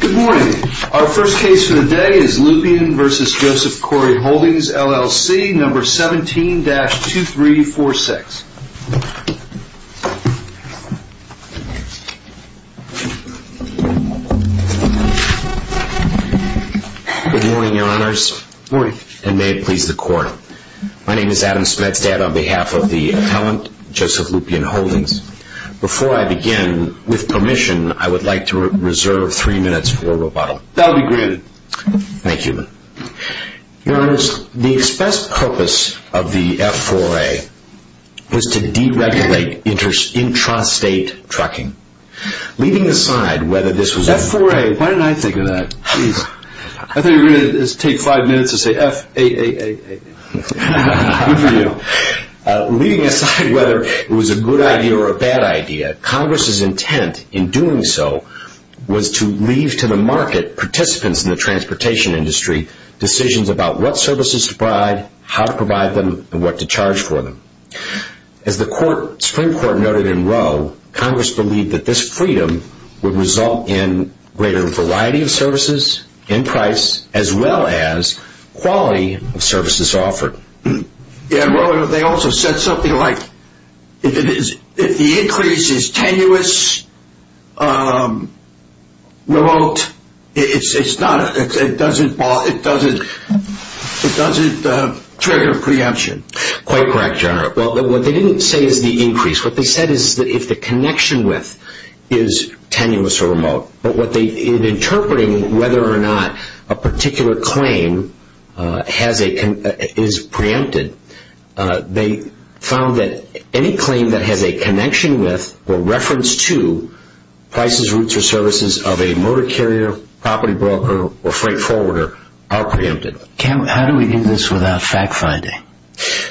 Good morning. Our first case for the day is Lupian v. Joseph Cory Holdings, LLC, No. 17-2346. Good morning, Your Honors. Good morning. And may it please the Court. My name is Adam Smetstad on behalf of the appellant, Joseph Lupian Holdings. Before I begin, with permission, I would like to reserve three minutes for rebuttal. That will be granted. Thank you. Your Honors, the express purpose of the F-4A was to deregulate intrastate trucking. Leaving aside whether this was... F-4A, why didn't I think of that? I thought you were going to take five minutes and say F-A-A-A-A. Good for you. Leaving aside whether it was a good idea or a bad idea, Congress's intent in doing so was to leave to the market participants in the transportation industry decisions about what services to provide, how to provide them, and what to charge for them. As the Supreme Court noted in Roe, Congress believed that this freedom would result in greater variety of services and price, as well as quality of services offered. They also said something like if the increase is tenuous, remote, it doesn't trigger preemption. Quite correct, Your Honor. What they didn't say is the increase. What they said is if the connection width is tenuous or remote. In interpreting whether or not a particular claim is preempted, they found that any claim that has a connection width or reference to prices, routes, or services of a motor carrier, property broker, or freight forwarder are preempted. How do we do this without fact-finding?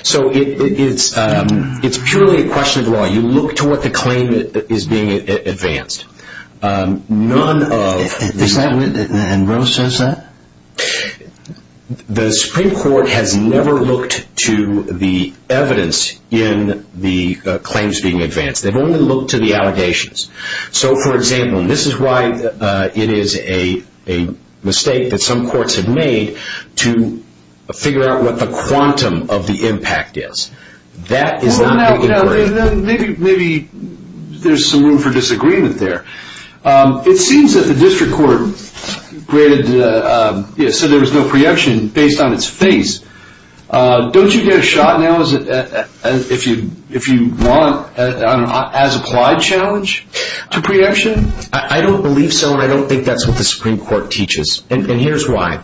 It's purely a question of law. You look to what the claim is being advanced. And Roe says that? The Supreme Court has never looked to the evidence in the claims being advanced. They've only looked to the allegations. So, for example, this is why it is a mistake that some courts have made to figure out what the quantum of the impact is. Maybe there's some room for disagreement there. It seems that the district court said there was no preemption based on its face. Don't you get a shot now if you want an as-applied challenge to preemption? I don't believe so, and I don't think that's what the Supreme Court teaches. And here's why.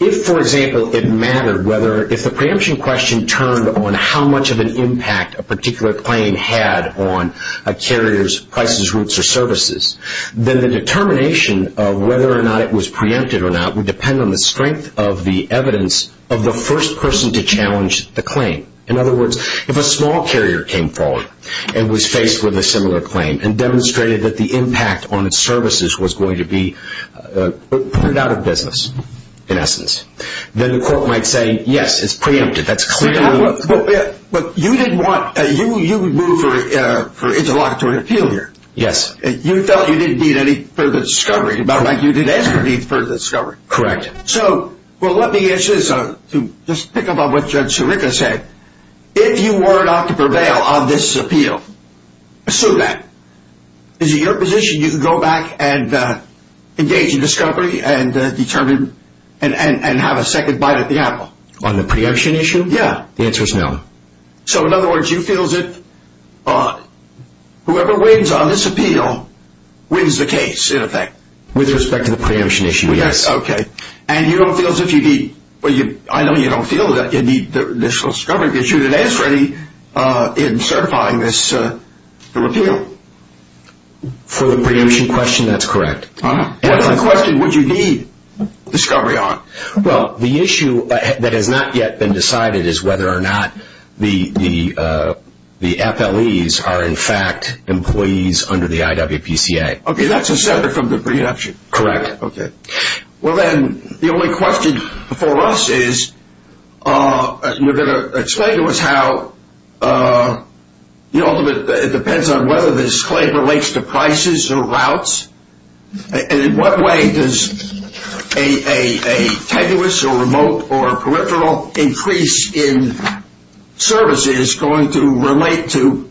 If, for example, it mattered whether if the preemption question turned on how much of an impact a particular claim had on a carrier's prices, routes, or services, then the determination of whether or not it was preempted or not would depend on the strength of the evidence of the first person to challenge the claim. In other words, if a small carrier came forward and was faced with a similar claim and demonstrated that the impact on its services was going to be put out of business, in essence, then the court might say, yes, it's preempted. But you didn't want – you moved for interlocutory appeal here. Yes. You felt you didn't need any further discovery, about like you didn't ask for any further discovery. Correct. So, well, let me answer this, to just pick up on what Judge Sirica said. If you were not to prevail on this appeal, assume that. Is it your position you can go back and engage in discovery and determine – and have a second bite at the apple? On the preemption issue? Yeah. The answer is no. So, in other words, you feel that whoever wins on this appeal wins the case, in effect? With respect to the preemption issue, yes. Okay. And you don't feel as if you need – well, I know you don't feel that you need the initial discovery, because you didn't ask for any in certifying this – the repeal. For the preemption question, that's correct. Ah. What question would you need discovery on? Well, the issue that has not yet been decided is whether or not the FLEs are, in fact, employees under the IWPCA. Okay. That's a separate from the preemption. Correct. Okay. Well, then, the only question for us is you're going to explain to us how – it depends on whether this claim relates to prices or routes. And in what way does a tenuous or remote or peripheral increase in services going to relate to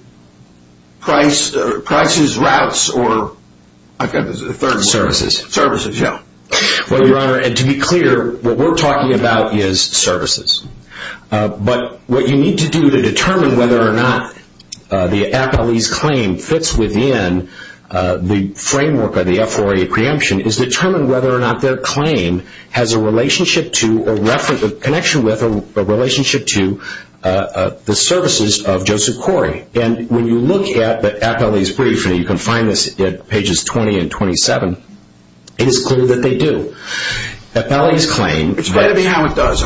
prices, routes, or – I've got the third one. Services. Services, yeah. Well, Your Honor, and to be clear, what we're talking about is services. But what you need to do to determine whether or not the FLE's claim fits within the framework of the FRA preemption is determine whether or not their claim has a relationship to or reference – a connection with a relationship to the services of Joseph Corey. And when you look at the FLE's brief, and you can find this at pages 20 and 27, it is clear that they do. FLE's claim – Explain to me how it does.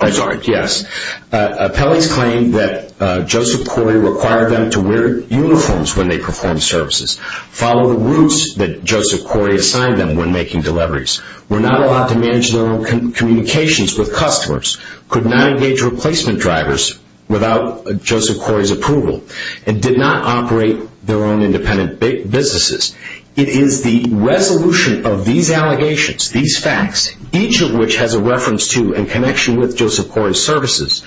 I'm sorry. Yes. FLE's claim that Joseph Corey required them to wear uniforms when they performed services, follow the routes that Joseph Corey assigned them when making deliveries, were not allowed to manage their own communications with customers, could not engage replacement drivers without Joseph Corey's approval, and did not operate their own independent businesses. It is the resolution of these allegations, these facts, each of which has a reference to and connection with Joseph Corey's services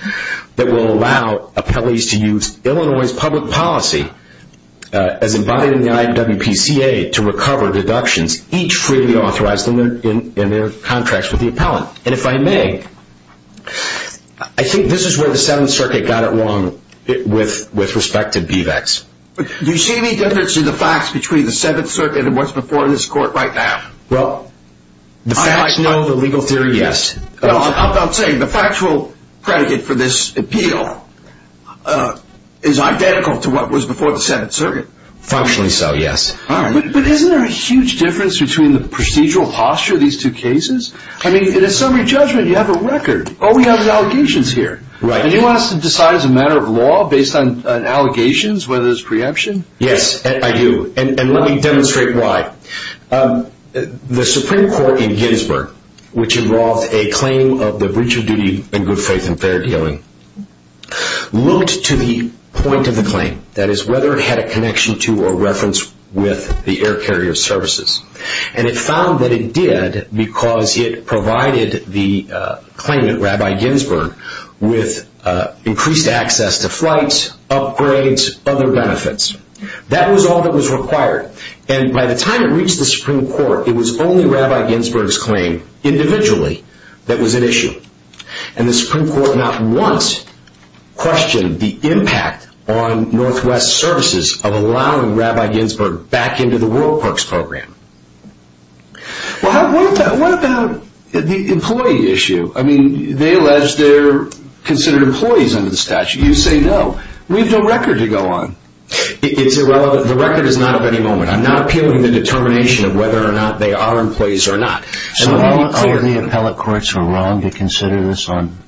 that will allow appellees to use Illinois' public policy as embodied in the IWPCA to recover deductions, each freely authorized in their contracts with the appellant. And if I may, I think this is where the 7th Circuit got it wrong with respect to BVACs. Do you see any difference in the facts between the 7th Circuit and what's before this court right now? Well, the facts know the legal theory, yes. I'm saying the factual predicate for this appeal is identical to what was before the 7th Circuit. Functionally so, yes. But isn't there a huge difference between the procedural posture of these two cases? I mean, in a summary judgment, you have a record. Oh, we have the allegations here. Right. Anyone has to decide as a matter of law based on allegations whether there's preemption? Yes, I do. And let me demonstrate why. The Supreme Court in Gettysburg, which involved a claim of the breach of duty in good faith and fair dealing, looked to the point of the claim, that is, whether it had a connection to or reference with the air carrier services. And it found that it did because it provided the claimant, Rabbi Ginsberg, with increased access to flights, upgrades, other benefits. That was all that was required. And by the time it reached the Supreme Court, it was only Rabbi Ginsberg's claim individually that was at issue. And the Supreme Court not once questioned the impact on Northwest services of allowing Rabbi Ginsberg back into the World Parks program. Well, what about the employee issue? I mean, they allege they're considered employees under the statute. You say no. We have no record to go on. It's irrelevant. The record is not of any moment. I'm not appealing the determination of whether or not they are employees or not. So are the appellate courts wrong to consider this on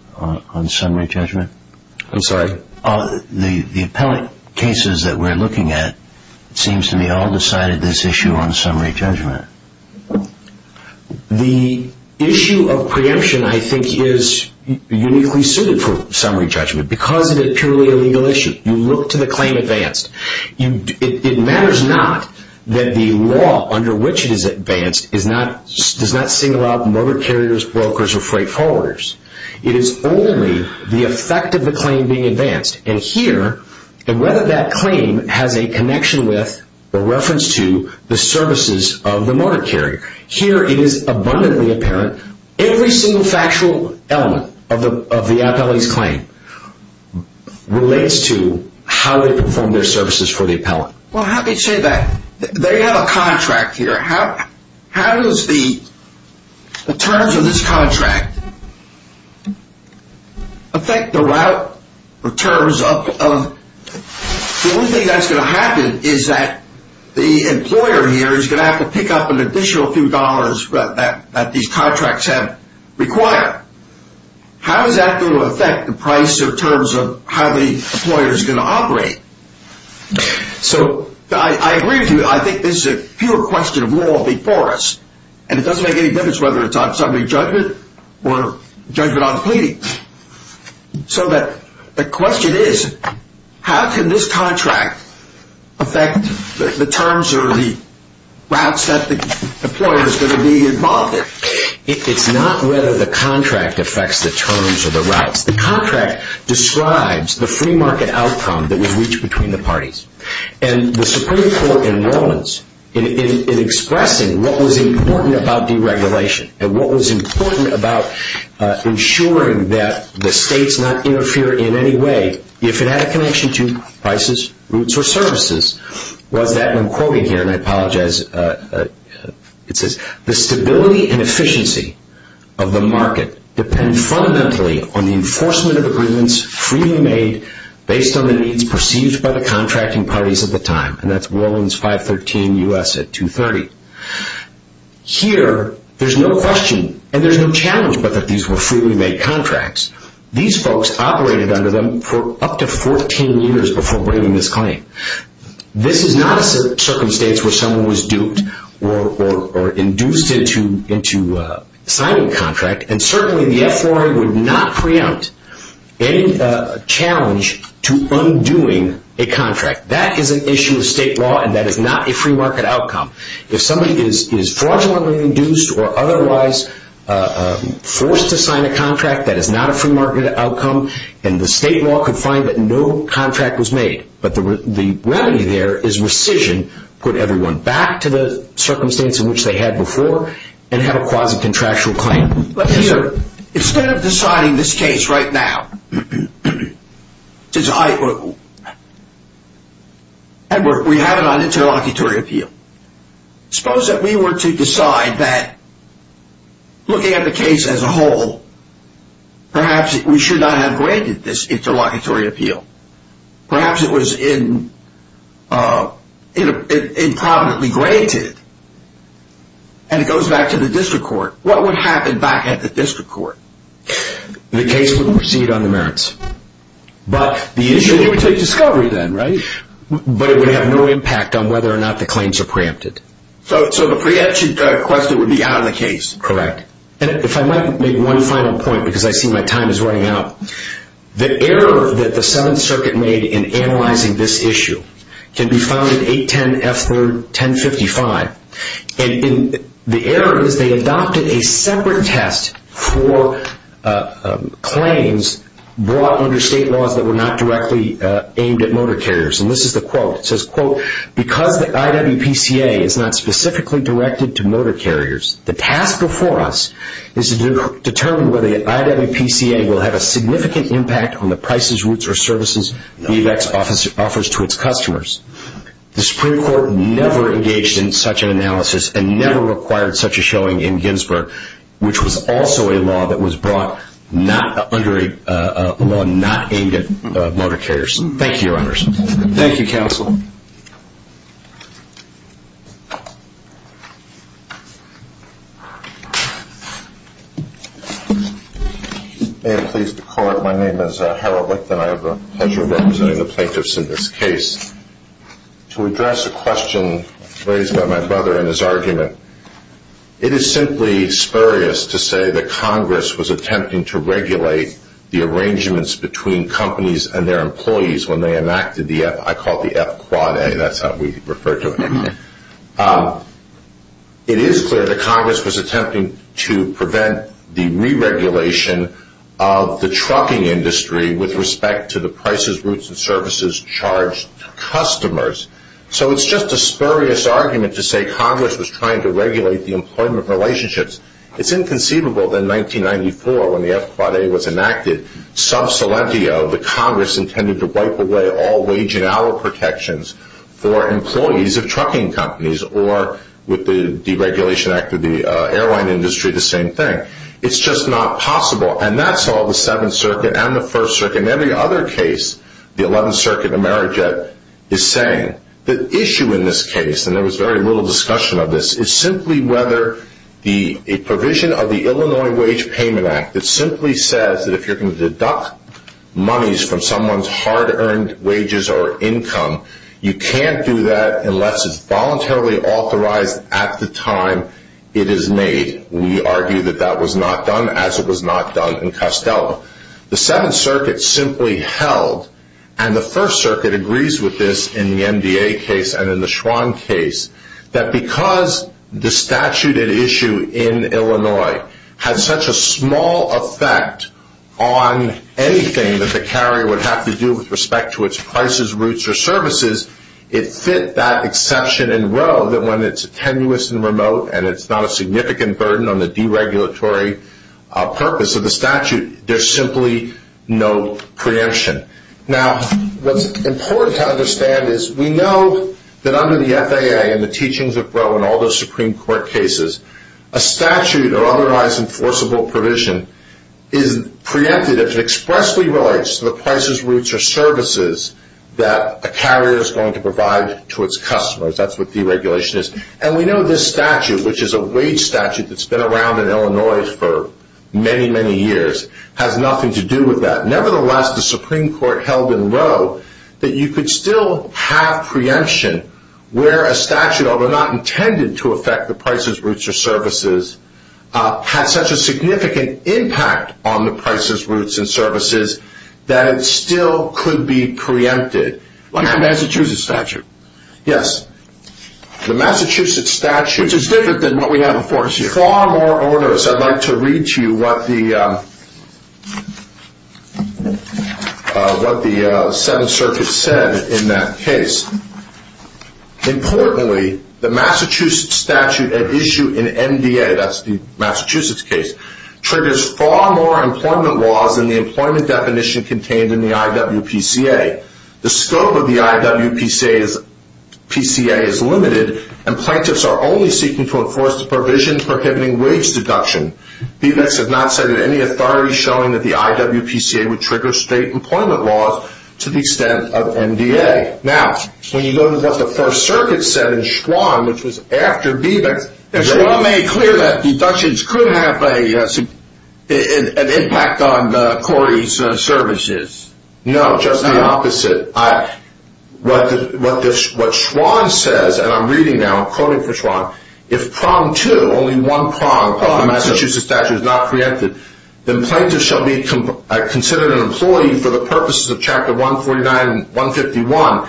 summary judgment? I'm sorry? The appellate cases that we're looking at, it seems to me all decided this issue on summary judgment. The issue of preemption, I think, is uniquely suited for summary judgment because it is purely a legal issue. You look to the claim advanced. It matters not that the law under which it is advanced does not single out motor carriers, brokers, or freight forwarders. It is only the effect of the claim being advanced. And here, and whether that claim has a connection with or reference to the services of the motor carrier, here it is abundantly apparent every single factual element of the appellee's claim relates to how they perform their services for the appellant. Well, let me say that. They have a contract here. How does the terms of this contract affect the route of terms of the only thing that's going to happen is that the employer here is going to have to pick up an additional few dollars that these contracts have required. How is that going to affect the price of terms of how the employer is going to operate? So I agree with you. I think this is a pure question of law before us, and it doesn't make any difference whether it's on summary judgment or judgment on the pleading. So the question is, how can this contract affect the terms or the routes that the employer is going to be involved in? It's not whether the contract affects the terms or the routes. The contract describes the free market outcome that was reached between the parties, and the Supreme Court enrollments in expressing what was important about deregulation and what was important about ensuring that the states not interfere in any way if it had a connection to prices, routes, or services was that, and I'm quoting here and I apologize, it says, The stability and efficiency of the market depend fundamentally on the enforcement of agreements freely made based on the needs perceived by the contracting parties at the time, and that's Warlands 513 U.S. at 230. Here, there's no question and there's no challenge but that these were freely made contracts. These folks operated under them for up to 14 years before bringing this claim. This is not a circumstance where someone was duped or induced into signing a contract, and certainly the F4A would not preempt any challenge to undoing a contract. That is an issue of state law and that is not a free market outcome. If somebody is fraudulently induced or otherwise forced to sign a contract, that is not a free market outcome, and the state law could find that no contract was made, but the remedy there is rescission, put everyone back to the circumstance in which they had before, and have a quasi-contractual claim. But here, instead of deciding this case right now, and we have it on interlocutory appeal, suppose that we were to decide that looking at the case as a whole, perhaps we should not have granted this interlocutory appeal. Perhaps it was improbably granted and it goes back to the district court. What would happen back at the district court? The case would proceed on the merits. But the issue would take discovery then, right? But it would have no impact on whether or not the claims are preempted. So the preemption question would be out of the case. Correct. And if I might make one final point because I see my time is running out. The error that the Seventh Circuit made in analyzing this issue can be found in 810F3-1055. And the error is they adopted a separate test for claims brought under state laws that were not directly aimed at motor carriers. And this is the quote. It says, quote, because the IWPCA is not specifically directed to motor carriers, the task before us is to determine whether the IWPCA will have a significant impact on the prices, routes, or services VVAC offers to its customers. The Supreme Court never engaged in such an analysis and never required such a showing in Ginsburg, which was also a law that was brought under a law not aimed at motor carriers. Thank you, Your Honors. Thank you, Counsel. May I please the Court? My name is Harold Licht and I have the pleasure of representing the plaintiffs in this case. To address a question raised by my brother in his argument, it is simply spurious to say that Congress was attempting to regulate the arrangements between companies and their employees when they enacted the F, I call it the F-Quad-A. That's how we refer to it. It is clear that Congress was attempting to prevent the re-regulation of the trucking industry with respect to the prices, routes, and services charged to customers. So it's just a spurious argument to say Congress was trying to regulate the employment relationships. It's inconceivable that in 1994 when the F-Quad-A was enacted, the Congress intended to wipe away all wage and hour protections for employees of trucking companies or with the deregulation act of the airline industry, the same thing. It's just not possible. And that's all the Seventh Circuit and the First Circuit and every other case, the Eleventh Circuit and AmeriJet is saying. The issue in this case, and there was very little discussion of this, is simply whether a provision of the Illinois Wage Payment Act that simply says that if you're going to deduct monies from someone's hard-earned wages or income, you can't do that unless it's voluntarily authorized at the time it is made. We argue that that was not done as it was not done in Costello. The Seventh Circuit simply held, and the First Circuit agrees with this in the MDA case and in the Schwann case, that because the statute at issue in Illinois has such a small effect on anything that the carrier would have to do with respect to its prices, routes, or services, it fit that exception in Roe that when it's tenuous and remote and it's not a significant burden on the deregulatory purpose of the statute, there's simply no preemption. Now, what's important to understand is we know that under the FAA and the teachings of Roe and all those Supreme Court cases, a statute or otherwise enforceable provision is preempted if it expressly relates to the prices, routes, or services that a carrier is going to provide to its customers. That's what deregulation is. And we know this statute, which is a wage statute that's been around in Illinois for many, many years, has nothing to do with that. Nevertheless, the Supreme Court held in Roe that you could still have preemption where a statute, although not intended to affect the prices, routes, or services, has such a significant impact on the prices, routes, and services that it still could be preempted. Like the Massachusetts statute. Yes. The Massachusetts statute is different than what we have enforced here. I'd like to read to you what the Seventh Circuit said in that case. Importantly, the Massachusetts statute at issue in NDA, that's the Massachusetts case, triggers far more employment laws than the employment definition contained in the IWPCA. The scope of the IWPCA is limited, and plaintiffs are only seeking to enforce the provisions prohibiting wage deduction. BVICS has not cited any authority showing that the IWPCA would trigger state employment laws to the extent of NDA. Now, when you go to what the First Circuit said in Schwann, which was after BVICS, Schwann made clear that deductions could have an impact on Corey's services. No, just the opposite. What Schwann says, and I'm reading now, I'm quoting from Schwann, if only one prong of the Massachusetts statute is not preempted, then plaintiffs shall be considered an employee for the purposes of Chapter 149 and 151.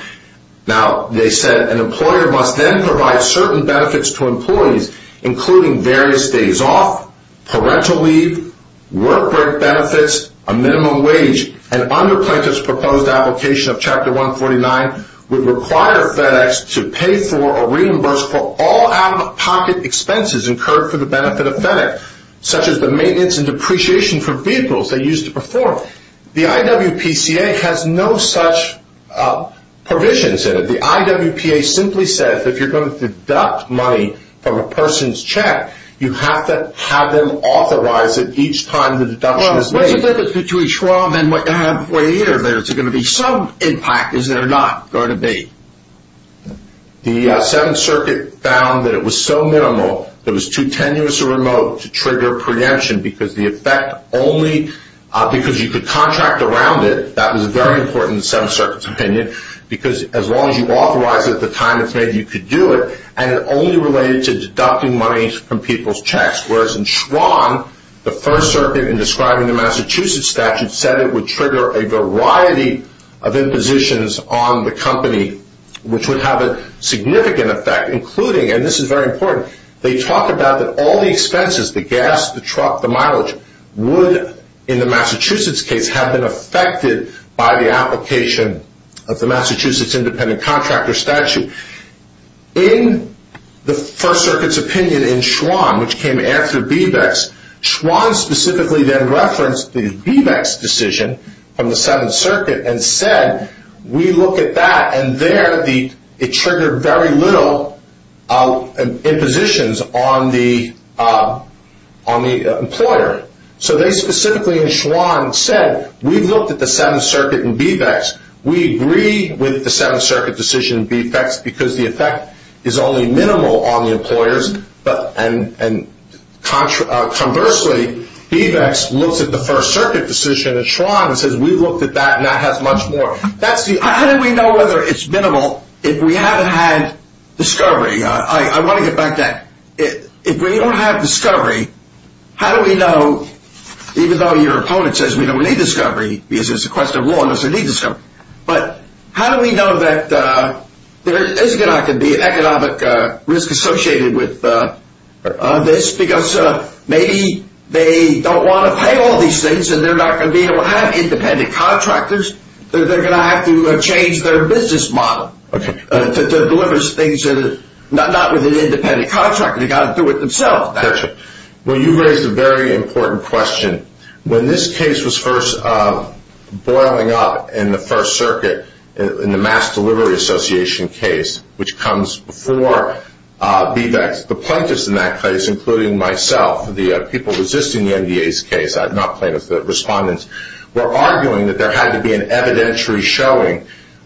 Now, they said, an employer must then provide certain benefits to employees, including various days off, parental leave, work break benefits, a minimum wage, and under plaintiffs' proposed application of Chapter 149, would require FedEx to pay for or reimburse for all out-of-pocket expenses incurred for the benefit of FedEx, such as the maintenance and depreciation for vehicles they use to perform. The IWPCA has no such provisions in it. The IWPA simply says that if you're going to deduct money from a person's check, you have to have them authorize it each time the deduction is made. Is there a difference between Schwann and what you have before you, or is there going to be some impact, is there not going to be? The Seventh Circuit found that it was so minimal that it was too tenuous or remote to trigger preemption because the effect only, because you could contract around it, that was very important in the Seventh Circuit's opinion, because as long as you authorize it at the time it's made, you could do it, and it only related to deducting money from people's checks, whereas in Schwann, the First Circuit, in describing the Massachusetts statute, said it would trigger a variety of impositions on the company, which would have a significant effect, including, and this is very important, they talk about that all the expenses, the gas, the truck, the mileage, would, in the Massachusetts case, have been affected by the application of the Massachusetts independent contractor statute. In the First Circuit's opinion in Schwann, which came after BVEX, Schwann specifically then referenced the BVEX decision from the Seventh Circuit and said, we look at that, and there it triggered very little impositions on the employer. So they specifically, in Schwann, said, we've looked at the Seventh Circuit and BVEX, we agree with the Seventh Circuit decision, BVEX, because the effect is only minimal on the employers, and conversely, BVEX looks at the First Circuit decision in Schwann and says, we've looked at that, and that has much more. How do we know whether it's minimal if we haven't had discovery? I want to get back to that. If we don't have discovery, how do we know, even though your opponent says we don't need discovery, because it's a question of law and there's a need for discovery, but how do we know that there is going to be an economic risk associated with this? Because maybe they don't want to pay all these things, and they're not going to be able to have independent contractors, they're going to have to change their business model to deliver things, not with an independent contractor, they've got to do it themselves. Well, you raised a very important question. When this case was first boiling up in the First Circuit, in the Mass Delivery Association case, which comes before BVEX, the plaintiffs in that case, including myself, the people resisting the NDA's case, not plaintiffs, the respondents, were arguing that there had to be an evidentiary showing,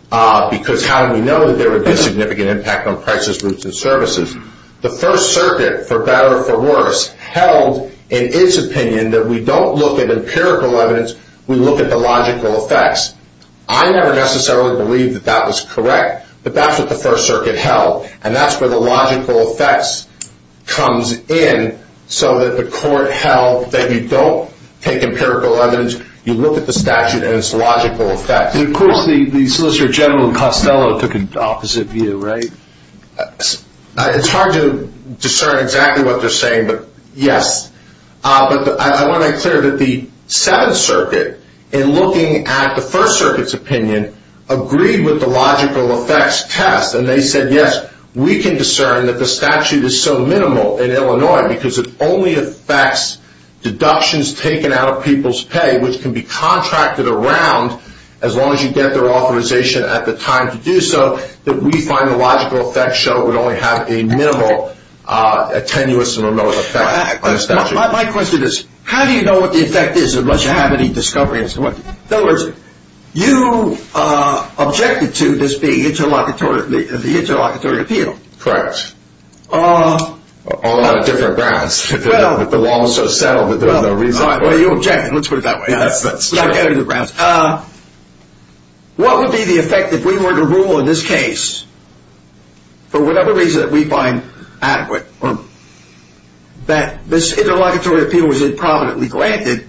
because how do we know that there would be a significant impact on prices, routes, and services? The First Circuit, for better or for worse, held, in its opinion, that we don't look at empirical evidence, we look at the logical effects. I never necessarily believed that that was correct, but that's what the First Circuit held, and that's where the logical effects comes in, so that the court held that you don't take empirical evidence, you look at the statute and its logical effects. Of course, the Solicitor General and Costello took an opposite view, right? It's hard to discern exactly what they're saying, but yes. But I want to make clear that the Seventh Circuit, in looking at the First Circuit's opinion, agreed with the logical effects test, and they said, yes, we can discern that the statute is so minimal in Illinois, because it only affects deductions taken out of people's pay, which can be contracted around, as long as you get their authorization at the time to do so, that we find the logical effects show it would only have a minimal, tenuous, and remote effect on a statute. My question is, how do you know what the effect is, unless you have any discovery? In other words, you objected to this being the interlocutory appeal. Correct. On a lot of different grounds. Well, you objected. Let's put it that way. What would be the effect if we were to rule in this case, for whatever reason that we find adequate, that this interlocutory appeal was improminently granted,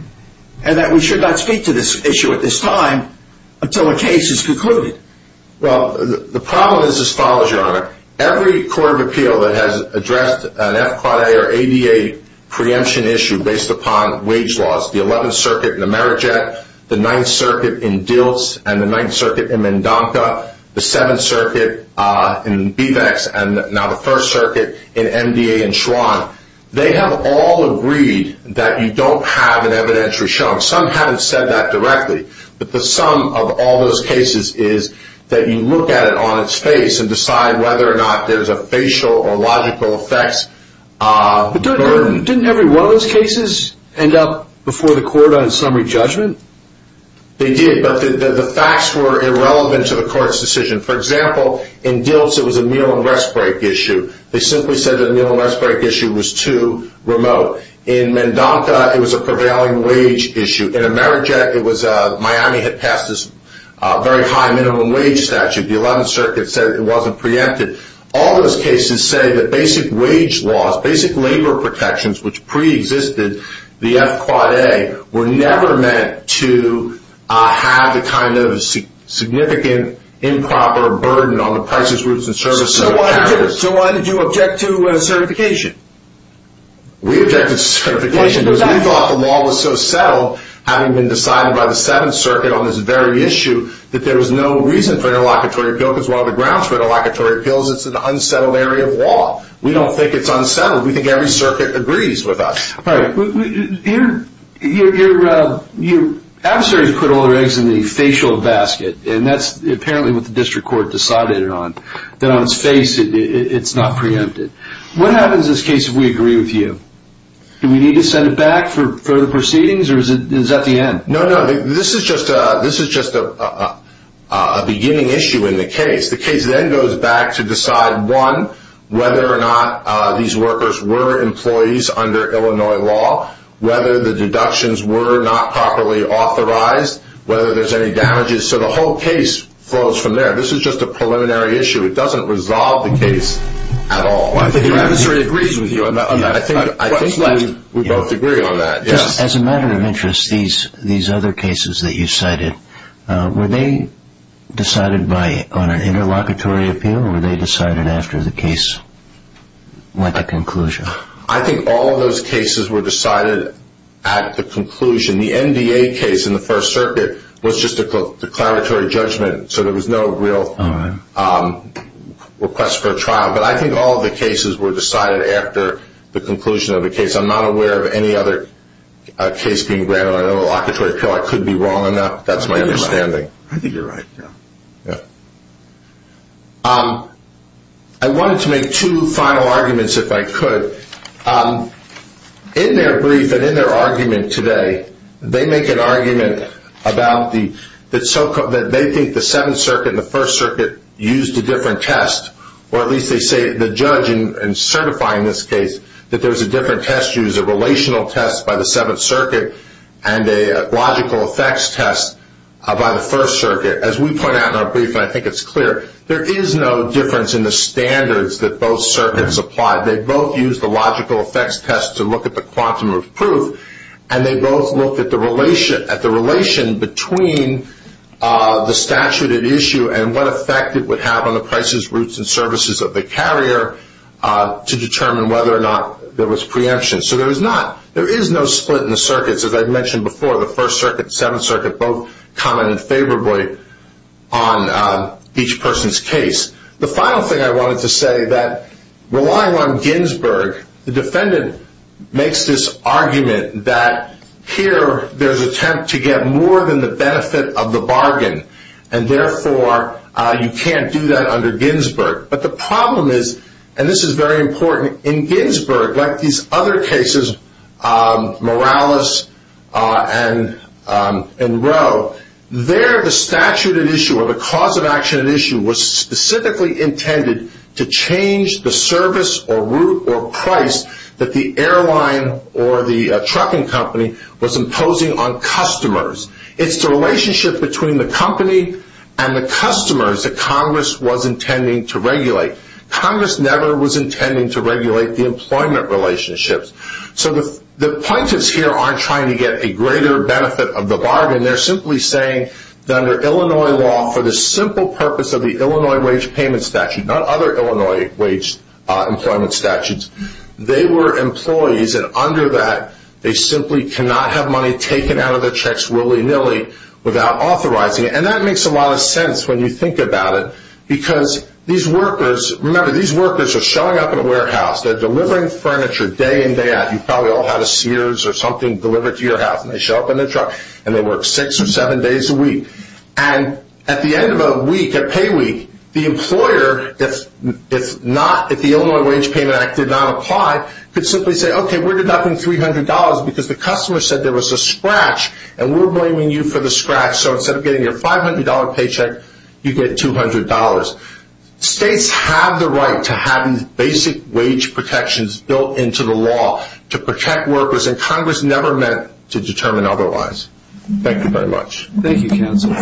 and that we should not speak to this issue at this time until a case is concluded? Every Court of Appeal that has addressed an FQA or ADA preemption issue based upon wage laws, the 11th Circuit in Ameriget, the 9th Circuit in Diltz, and the 9th Circuit in Mendonca, the 7th Circuit in Bevex, and now the 1st Circuit in MDA in Schwann, they have all agreed that you don't have an evidentiary shown. Some haven't said that directly, but the sum of all those cases is that you look at it on its face and decide whether or not there's a facial or logical effect. But didn't every one of those cases end up before the Court on a summary judgment? They did, but the facts were irrelevant to the Court's decision. For example, in Diltz it was a meal and rest break issue. They simply said that the meal and rest break issue was too remote. In Mendonca it was a prevailing wage issue. In Ameriget, Miami had passed this very high minimum wage statute. The 11th Circuit said it wasn't preempted. All those cases say that basic wage laws, basic labor protections, which preexisted the F-Quad A, were never meant to have the kind of significant improper burden on the prices, routes, and services of the capitalists. So why did you object to certification? We objected to certification because we thought the law was so settled, having been decided by the 7th Circuit on this very issue, that there was no reason for interlocutory appeal. Because one of the grounds for interlocutory appeal is that it's an unsettled area of law. We don't think it's unsettled. We think every circuit agrees with us. Your adversary has put all their eggs in the facial basket, and that's apparently what the District Court decided on, that on its face it's not preempted. What happens in this case if we agree with you? Do we need to send it back for further proceedings, or is that the end? No, no, this is just a beginning issue in the case. The case then goes back to decide, one, whether or not these workers were employees under Illinois law, whether the deductions were not properly authorized, whether there's any damages. So the whole case flows from there. This is just a preliminary issue. It doesn't resolve the case at all. I think your adversary agrees with you on that. I think we both agree on that. As a matter of interest, these other cases that you cited, were they decided on an interlocutory appeal, or were they decided after the case went to conclusion? I think all of those cases were decided at the conclusion. The NDA case in the 1st Circuit was just a declaratory judgment, so there was no real request for a trial. But I think all of the cases were decided after the conclusion of the case. I'm not aware of any other case being granted an interlocutory appeal. I could be wrong on that. That's my understanding. I think you're right. I wanted to make two final arguments, if I could. In their brief and in their argument today, they make an argument that they think the 7th Circuit and the 1st Circuit used a different test, or at least they say the judge in certifying this case, that there was a different test used, a relational test by the 7th Circuit, and a logical effects test by the 1st Circuit. As we point out in our brief, and I think it's clear, there is no difference in the standards that both circuits applied. They both used the logical effects test to look at the quantum of proof, and they both looked at the relation between the statute at issue and what effect it would have on the prices, routes, and services of the carrier to determine whether or not there was preemption. So there is no split in the circuits. As I mentioned before, the 1st Circuit and the 7th Circuit both commented favorably on each person's case. The final thing I wanted to say, that relying on Ginsburg, the defendant makes this argument that here there's an attempt to get more than the benefit of the bargain, and therefore you can't do that under Ginsburg. But the problem is, and this is very important, in Ginsburg, like these other cases, Morales and Rowe, there the statute at issue, or the cause of action at issue, was specifically intended to change the service or route or price that the airline or the trucking company was imposing on customers. It's the relationship between the company and the customers that Congress was intending to regulate. Congress never was intending to regulate the employment relationships. So the plaintiffs here aren't trying to get a greater benefit of the bargain. They're simply saying that under Illinois law, for the simple purpose of the Illinois wage payment statute, not other Illinois wage employment statutes, they were employees, and under that they simply cannot have money taken out of their checks willy-nilly without authorizing it. And that makes a lot of sense when you think about it, because these workers, remember these workers are showing up at a warehouse, they're delivering furniture day in, day out. You've probably all had a Sears or something delivered to your house, and they show up in their truck and they work six or seven days a week. And at the end of a week, a pay week, the employer, if the Illinois wage payment act did not apply, could simply say, okay, we're deducting $300 because the customer said there was a scratch, and we're blaming you for the scratch. So instead of getting your $500 paycheck, you get $200. States have the right to have these basic wage protections built into the law to protect workers, and Congress never meant to determine otherwise. Thank you very much. Thank you, counsel.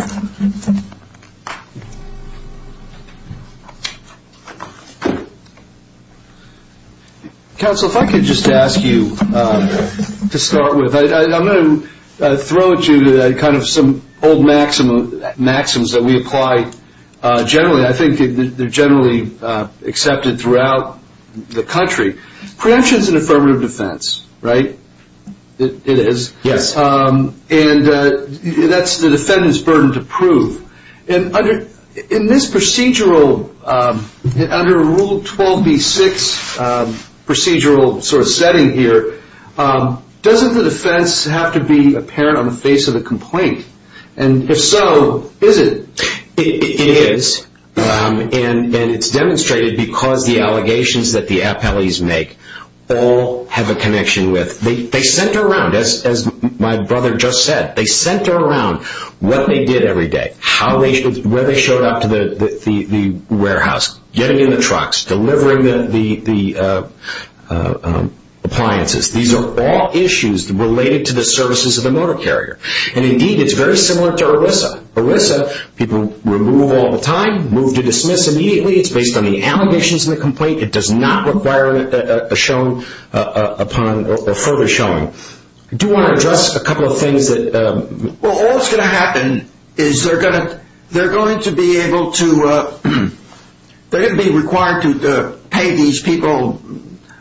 Counsel, if I could just ask you to start with, I'm going to throw at you kind of some old maxims that we apply generally. I think they're generally accepted throughout the country. Preemption is an affirmative defense, right? It is. Yes. And that's the defendant's burden to prove. And in this procedural, under Rule 12b-6 procedural sort of setting here, doesn't the defense have to be apparent on the face of the complaint? And if so, is it? It is, and it's demonstrated because the allegations that the appellees make all have a connection with. They center around, as my brother just said, they center around what they did every day, where they showed up to the warehouse, getting in the trucks, delivering the appliances. These are all issues related to the services of the motor carrier. And, indeed, it's very similar to ERISA. ERISA, people remove all the time, move to dismiss immediately. It's based on the allegations in the complaint. It does not require a further showing. I do want to address a couple of things. Well, all that's going to happen is they're going to be required to pay these people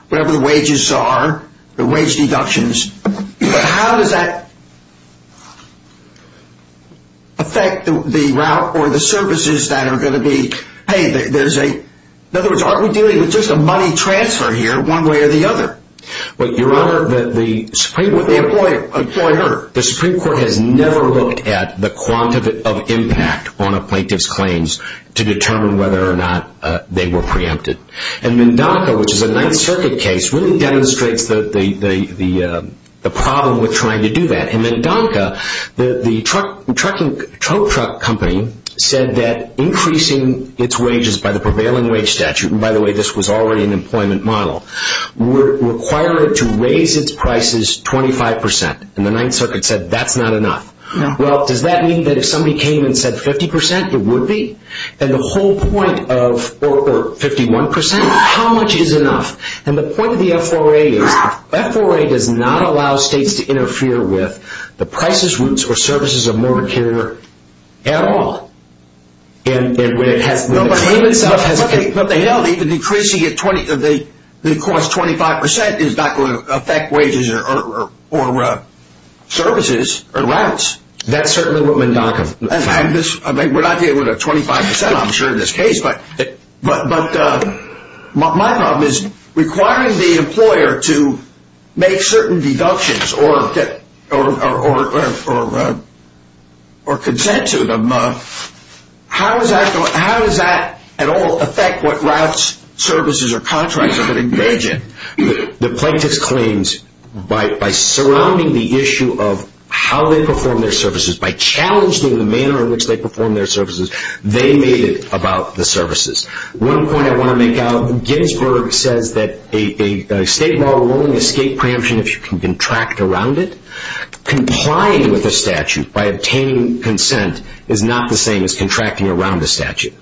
whatever the wages are, the wage deductions. But how does that affect the route or the services that are going to be paid? In other words, aren't we dealing with just a money transfer here one way or the other? Your Honor, the Supreme Court has never looked at the quantity of impact on a plaintiff's claims to determine whether or not they were preempted. And MnDONCA, which is a Ninth Circuit case, really demonstrates the problem with trying to do that. And MnDONCA, the tow truck company, said that increasing its wages by the prevailing wage statute, and, by the way, this was already an employment model, required it to raise its prices 25 percent. And the Ninth Circuit said that's not enough. Well, does that mean that if somebody came and said 50 percent, it would be? And the whole point of 51 percent, how much is enough? And the point of the F4A is the F4A does not allow states to interfere with the prices, routes, or services of motor carrier at all. And when the claim itself has been… But they don't. Even increasing the cost 25 percent is not going to affect wages or services or routes. That's certainly what MnDONCA… We're not dealing with 25 percent, I'm sure, in this case. But my problem is, requiring the employer to make certain deductions or consent to them, how does that at all affect what routes, services, or contracts are going to engage in? The plaintiff's claims, by surrounding the issue of how they perform their services, by challenging the manner in which they perform their services, they made it about the services. One point I want to make out, Ginsburg says that a state law will only escape preemption if you can contract around it. Complying with a statute by obtaining consent is not the same as contracting around a statute.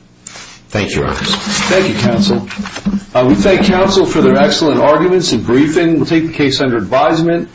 Thank you, Your Honors. Thank you, Counsel. We thank Counsel for their excellent arguments and briefing. We'll take the case under advisement.